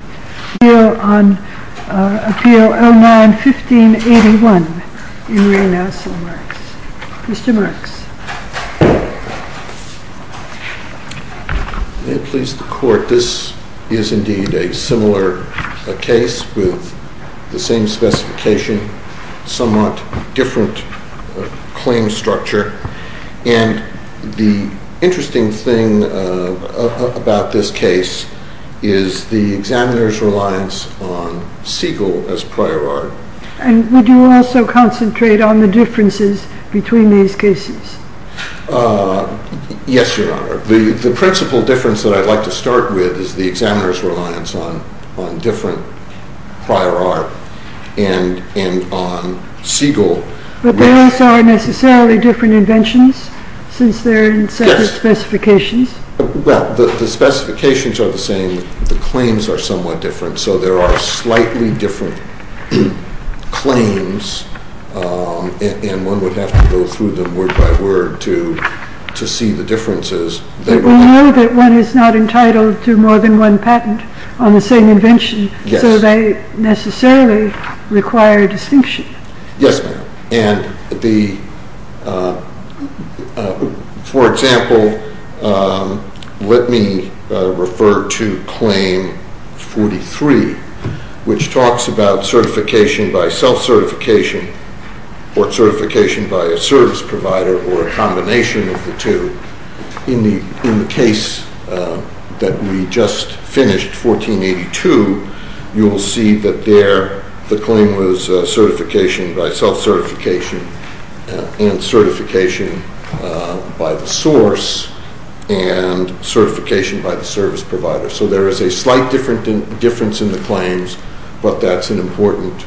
Marks. Mr. Marks. May it please the Court, this is indeed a similar case with the same specification, somewhat different claim structure, and the interesting thing about this case is the examiner's reliance on Siegel as prior art. And would you also concentrate on the differences between these cases? Yes, Your Honor. The principal difference that I'd like to start with is the examiner's reliance on different prior art and on Siegel. But they also are necessarily different inventions since they're in separate specifications? Yes. Well, the specifications are the same, the claims are somewhat different, so there are slightly different claims, and one would have to go through them word by word to see the differences. But we know that one is not entitled to more than one patent on the same invention, so they necessarily require distinction. Yes, ma'am. For example, let me refer to Claim 43, which talks about certification by self-certification or certification by a service provider or a service provider. You will see that there the claim was certification by self-certification and certification by the source and certification by the service provider. So there is a slight difference in the claims, but that's an important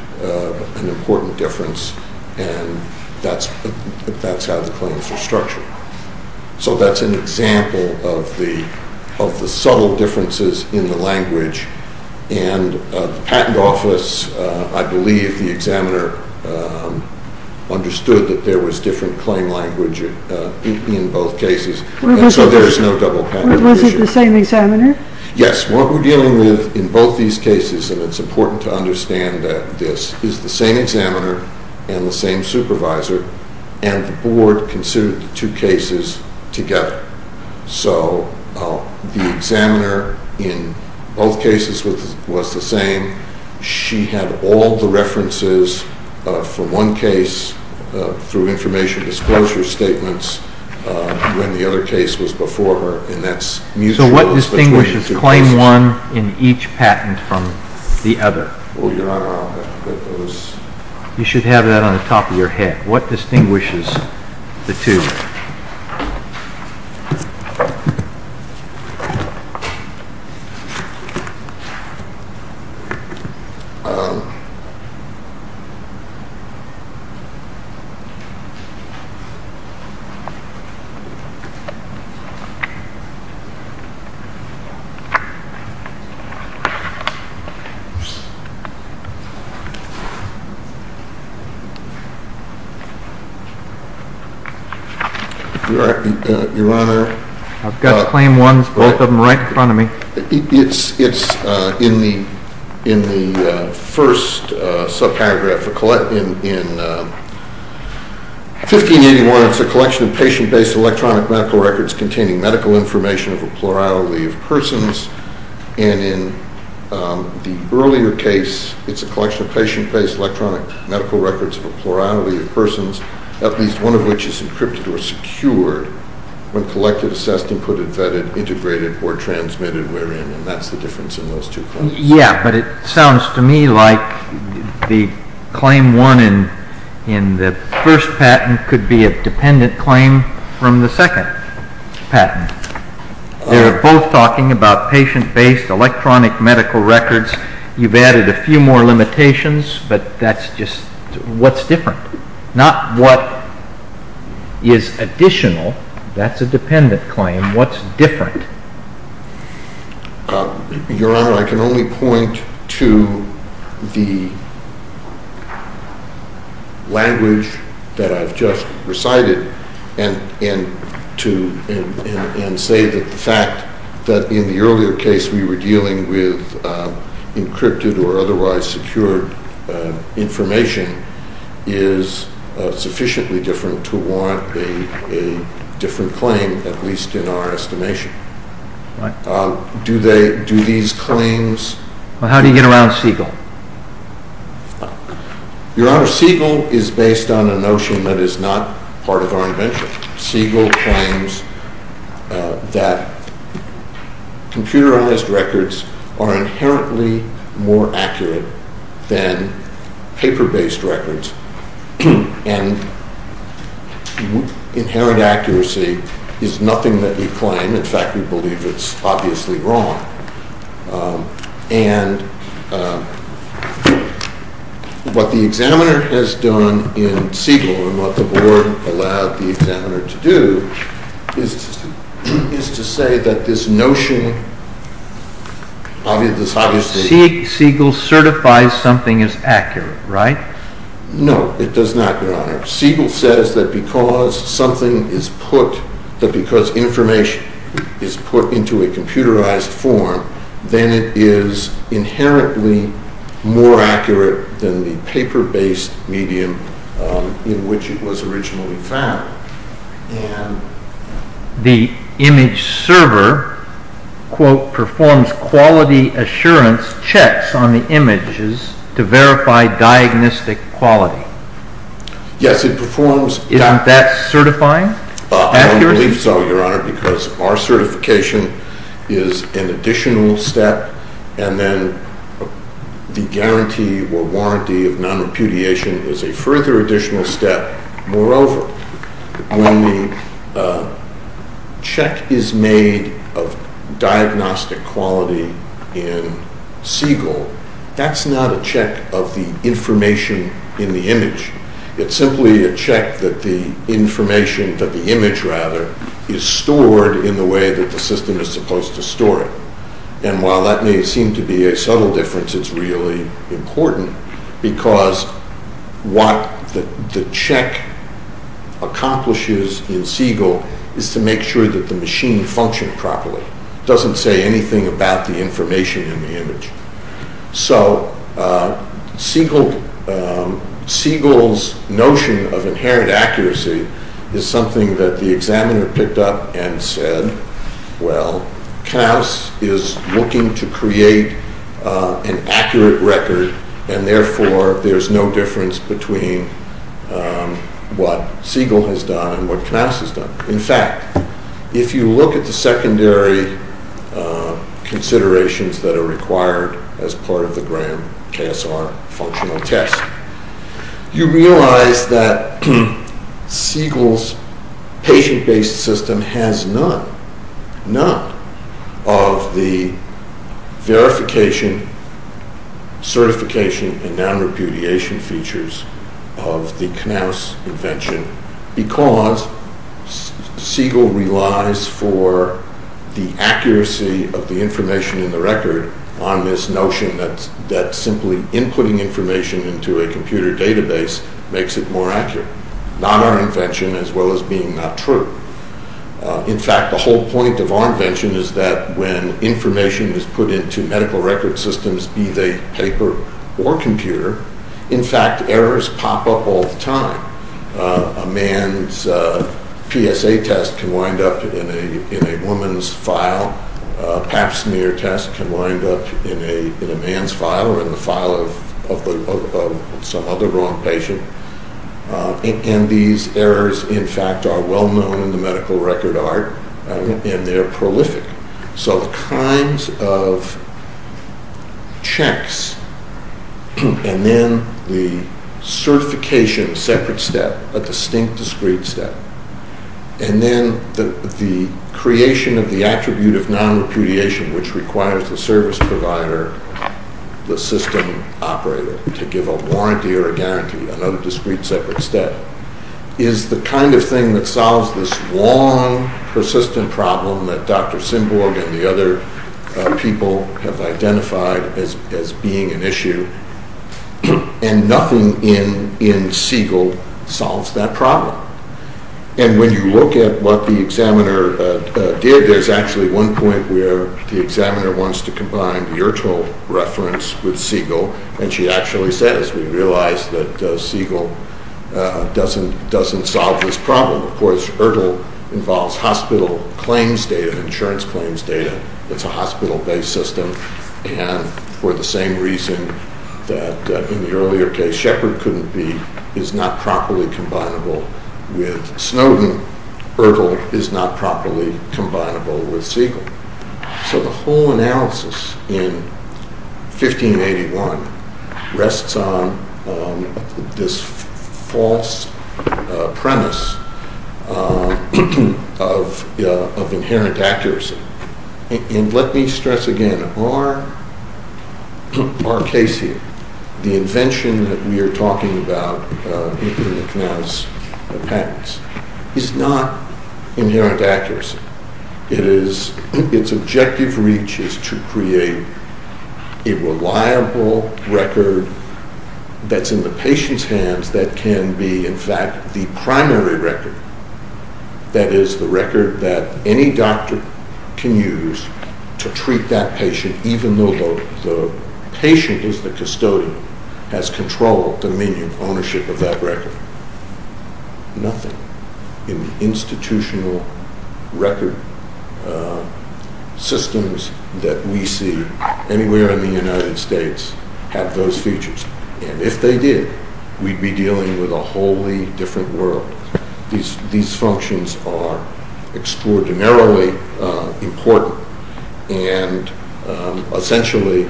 difference and that's how the claims are structured. So that's an example of the subtle differences in the language. And the patent office, I believe, the examiner understood that there was different claim language in both cases, so there is no double patent issue. Was it the same examiner? Yes. What we're dealing with in both these cases, and it's important to understand this, is the same examiner and the same supervisor, and the board considered the two cases together. So the examiner in both cases was the same. She had all the references from one case through information disclosure statements when the other case was before her. So what distinguishes Claim 1 in each patent from the other? You should have that on the top of your head. What distinguishes the two? Your Honor, I've got Claim 1, both of them right in front of me. It's in the first sub-paragraph. In 1581, it's a collection of patient-based electronic medical records containing medical information of a plurality of persons, and in the earlier case, it's a collection of patient-based electronic medical records of a plurality of persons, at least one of which is encrypted or secured when collected, assessed, inputted, vetted, integrated, or transmitted wherein, and that's the difference in those two claims. Yeah, but it sounds to me like the Claim 1 in the first patent could be a dependent claim from the second patent. They're both talking about just what's different, not what is additional. That's a dependent claim. What's different? Your Honor, I can only point to the language that I've just recited and say that the fact we were dealing with encrypted or otherwise secured information is sufficiently different to warrant a different claim, at least in our estimation. Do these claims... How do you get around Siegel? Your Honor, Siegel is based on a notion that is not part of our invention. Siegel claims that computerized records are inherently more accurate than paper-based records, and inherent accuracy is nothing that we claim. In fact, we believe it's obviously wrong, and what the examiner has done in Siegel and what the board allowed the examiner to do is to say that this notion... Siegel certifies something is accurate, right? No, it does not, Your Honor. Siegel says that because something is put, that because information is put into a computerized form, then it is inherently more accurate than the paper-based medium in which it was originally found. The image server, quote, performs quality assurance checks on the images to verify diagnostic quality. Yes, it performs... Isn't that certifying? I believe so, Your Honor, because our certification is an additional step, and then the guarantee or warranty of non-repudiation is a further additional step. Moreover, when the check is made of diagnostic quality in Siegel, that's not a check of the information in the image. It's simply a check that the information, that the image rather, is stored in the way that the system is supposed to store it. And while that may seem to be a subtle difference, it's really important because what the check accomplishes in Siegel is to make sure that the machine functioned properly. It doesn't say anything about the information in the image. So Siegel's notion of inherent accuracy is something that the examiner picked up and said, well, Knauss is looking to create an accurate record, and therefore there's no difference between what Siegel has done and what Knauss has done. In fact, if you look at the secondary considerations that are required as part of the grand KSR functional test, you notice none of the verification, certification, and non-repudiation features of the Knauss invention because Siegel relies for the accuracy of the information in the record on this notion that simply inputting information into a computer database makes it more accurate. Not our invention as well as being not true. In fact, the whole point of our invention is that when information is put into medical record systems, be they paper or computer, in fact errors pop up all the time. A man's PSA test can wind up in a woman's file. Pap smear test can wind up in a man's file or in the file of some other wrong patient. And these errors, in fact, are well known in the medical record art and they're prolific. So the kinds of checks and then the certification separate step, a distinct discrete step, and then the creation of the attribute of non-repudiation which requires the system operator to give a warranty or a guarantee, another discrete separate step, is the kind of thing that solves this long persistent problem that Dr. Sinborg and the other people have identified as being an issue. And nothing in Siegel solves that problem. And when you look at what the examiner did, there's actually one point where the examiner wants to combine the Ertl reference with Siegel and she actually says, we realize that Siegel doesn't doesn't solve this problem. Of course Ertl involves hospital claims data, insurance claims data, it's a hospital-based system and for the same reason that in the earlier case Shepard couldn't be, is not properly combinable with Snowden, Ertl is not properly combinable with Siegel. So the whole analysis in 1581 rests on this false premise of inherent accuracy. And let me stress again, our case here, the invention that we are talking about in the Knauss patents, is not inherent accuracy. It is, its objective reach is to create a reliable record that's in the patient's hands that can be in fact the primary record, that is the record that any doctor can use to treat that patient is the custodian, has control, dominion, ownership of that record. Nothing in the institutional record systems that we see anywhere in the United States have those features. And if they did, we'd be dealing with a wholly different world. These functions are extraordinarily important and essentially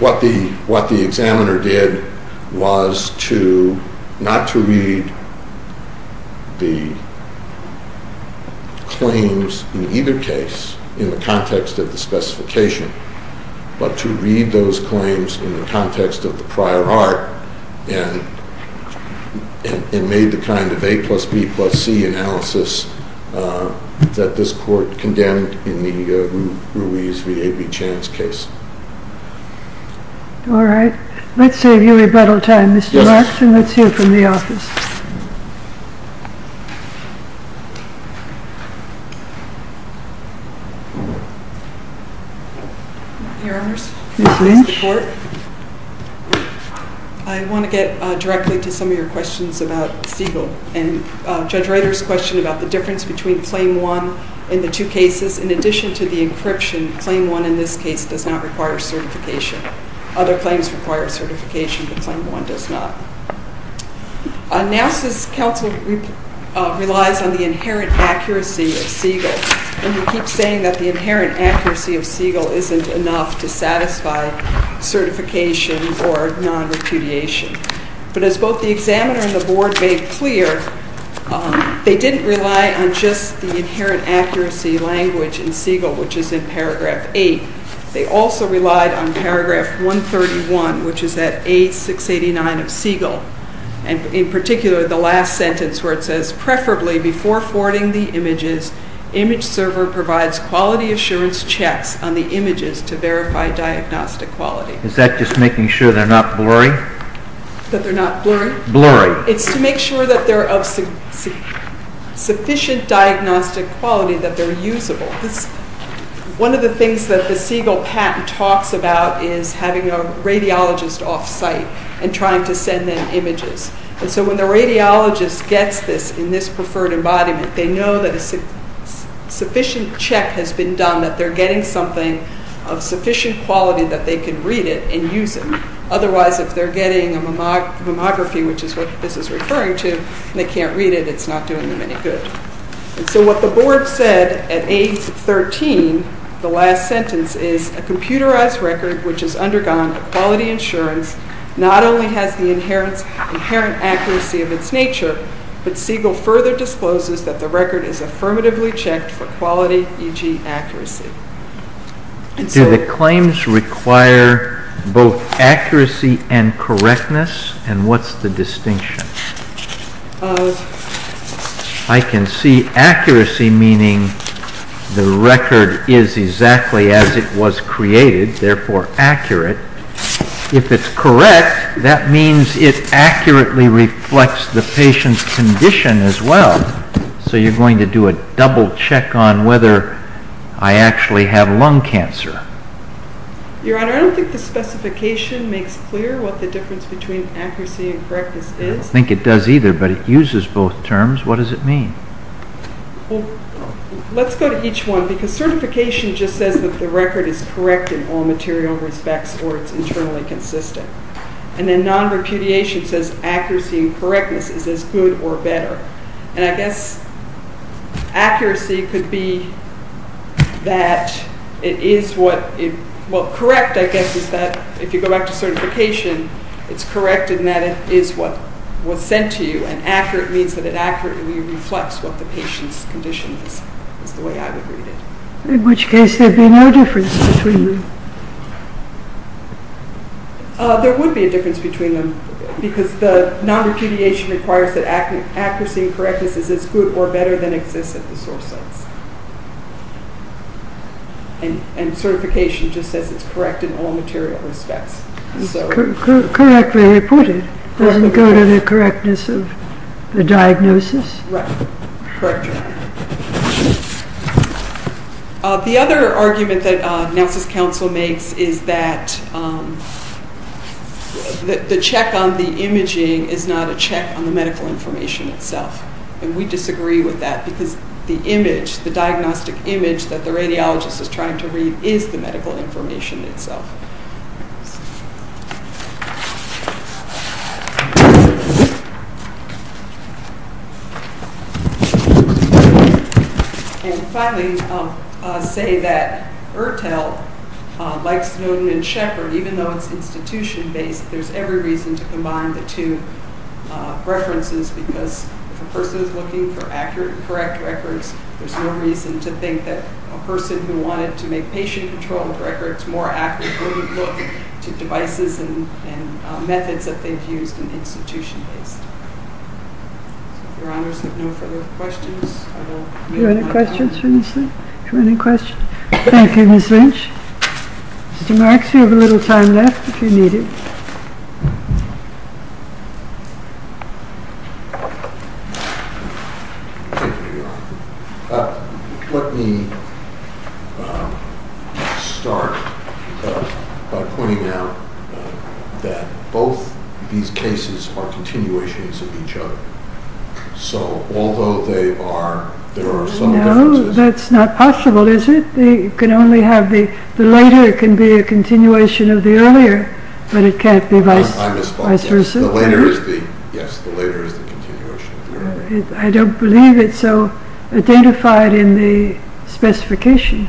what the examiner did was to, not to read the claims in either case in the context of the specification, but to read those claims in the kind of A plus B plus C analysis that this court condemned in the Ruiz v. A. B. Chan's case. All right. Let's save you a little time, Mr. Larkin. Let's hear from the office. Your Honors, Mr. Court, I want to get directly to some of your questions about Siegel and Judge Reiter's question about the difference between claim one in the two cases. In addition to the encryption, claim one in this case does not require certification. Other claims require certification, but claim one does not. Knauss' counsel relies on the inherent accuracy of Siegel and he keeps saying that the inherent accuracy of Siegel isn't enough to satisfy certification or non-repudiation. But as both the examiner and the board made clear, they didn't rely on just the inherent accuracy language in Siegel, which is in paragraph eight. They also relied on paragraph 131, which is at A-689 of Siegel. And in particular, the last server provides quality assurance checks on the images to verify diagnostic quality. Is that just making sure they're not blurry? That they're not blurry? Blurry. It's to make sure that they're of sufficient diagnostic quality that they're usable. One of the things that the Siegel patent talks about is having a radiologist off-site and trying to send them images. And so when the radiologist gets this in this preferred embodiment, they know that a sufficient check has been done, that they're getting something of sufficient quality that they can read it and use it. Otherwise, if they're getting a mammography, which is what this is referring to, and they can't read it, it's not doing them any good. And so what the board said at A-13, the last sentence, is a computerized record, which has undergone a quality insurance, not only has the inherent accuracy of its nature, but Siegel further discloses that the record is affirmatively checked for quality, e.g. accuracy. Do the claims require both accuracy and correctness? And what's the distinction? I can see accuracy meaning the record is exactly as it was created, therefore accurate. If it's correct, that means it accurately reflects the patient's condition as well. So you're going to do a double check on whether I actually have lung cancer? Your Honor, I don't think the specification makes clear what the difference between accuracy and correctness is. I don't think it does either, but it uses both terms. What does it mean? Well, let's go to each one, because certification just says that the record is correct in all material respects or it's internally consistent. And then non-repudiation says accuracy and correctness. Accuracy could be that it is what, well, correct, I guess, is that if you go back to certification, it's correct in that it is what was sent to you, and accurate means that it accurately reflects what the patient's condition is, is the way I would read it. In which case, there'd be no difference between them? There would be a difference between them, because the non-repudiation requires that it's good or better than exists at the source sites. And certification just says it's correct in all material respects. Correctly reported. Doesn't go to the correctness of the diagnosis? Right. Correct, Your Honor. The other argument that Nelson's counsel makes is that the check on the imaging is not a check on the medical information itself. And we disagree with that, because the image, the diagnostic image that the radiologist is trying to read is the medical information itself. And finally, I'll say that ERTL, like Snowden and Shepard, even though it's institution-based, there's every reason to combine the two references, because if a person is looking for accurate and correct records, there's no reason to think that a person who wanted to accurately look to devices and methods that they've used in institution-based. So if Your Honors have no further questions, I will make my move. Do you have any questions for Ms. Lynch? Do you have any questions? Thank you, Ms. Lynch. Mr. Marks, you have a little time left if you need it. Thank you, Your Honor. Let me start by pointing out that both these cases are continuations of each other. So although they are, there are some differences. No, that's not possible, is it? They can only have the later can be a continuation of the earlier, but it can't be vice versa. I don't believe it's so identified in the specification.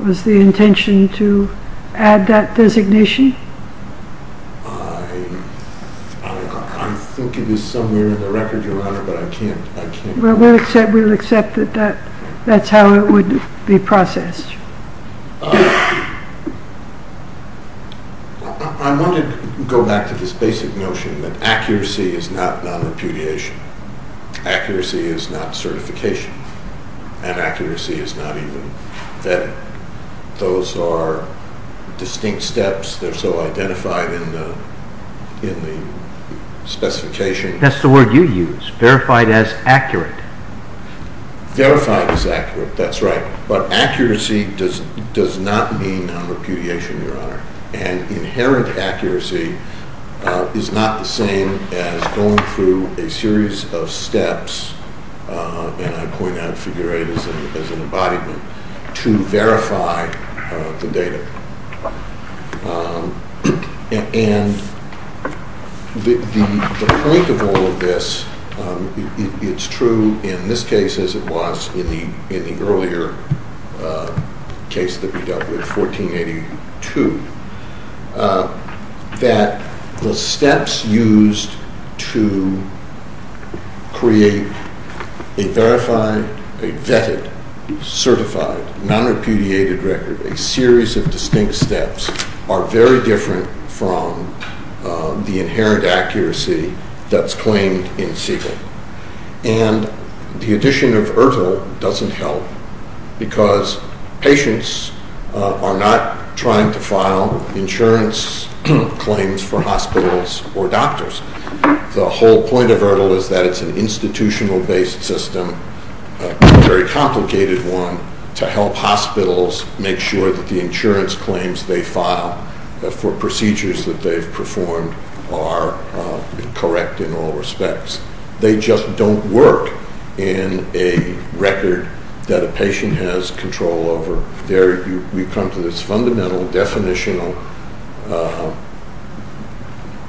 Was the intention to add that designation? I think it is somewhere in the record, Your Honor, but I can't. Well, we'll accept that that's how it would be processed. I want to go back to this basic notion that accuracy is not non-repudiation. Accuracy is not certification, and accuracy is not even vetting. Those are distinct steps. They're so identified in the specification. That's the word you use, verified as accurate. Verified as accurate, that's right, but accuracy does not mean non-repudiation, Your Honor. And inherent accuracy is not the same as going through a series of steps, and I point out figure eight as an embodiment, to verify the data. And the point of all of this, it's true in this case as it was in the earlier case that we dealt with, 1482, that the steps used to create a verified, a vetted, certified, non-repudiated record, a series of distinct steps, are very different from the inherent accuracy that's claimed in Siegel. And the addition of ERTL doesn't help because patients are not trying to file insurance claims for hospitals or doctors. The whole point of ERTL is that it's an institutional-based system, a very complicated one, to help hospitals make sure that the insurance claims they file for procedures that they've performed are correct in all respects. They just don't work in a record that a patient has control over. There, we've come to this fundamental definitional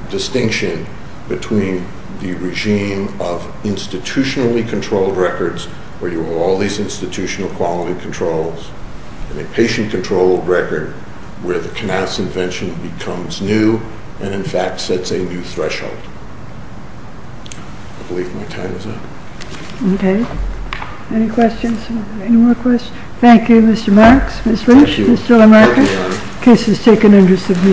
distinction between the regime of institutionally-controlled records, where you have all these institutional quality controls, and a patient-controlled record, where the Knauss invention becomes new, and in fact sets a new threshold. I believe my time is up. Okay. Any questions? Any more questions? Thank you, Mr. Marks, Ms. Lynch, Mr. Lamarck. The case is taken under submission.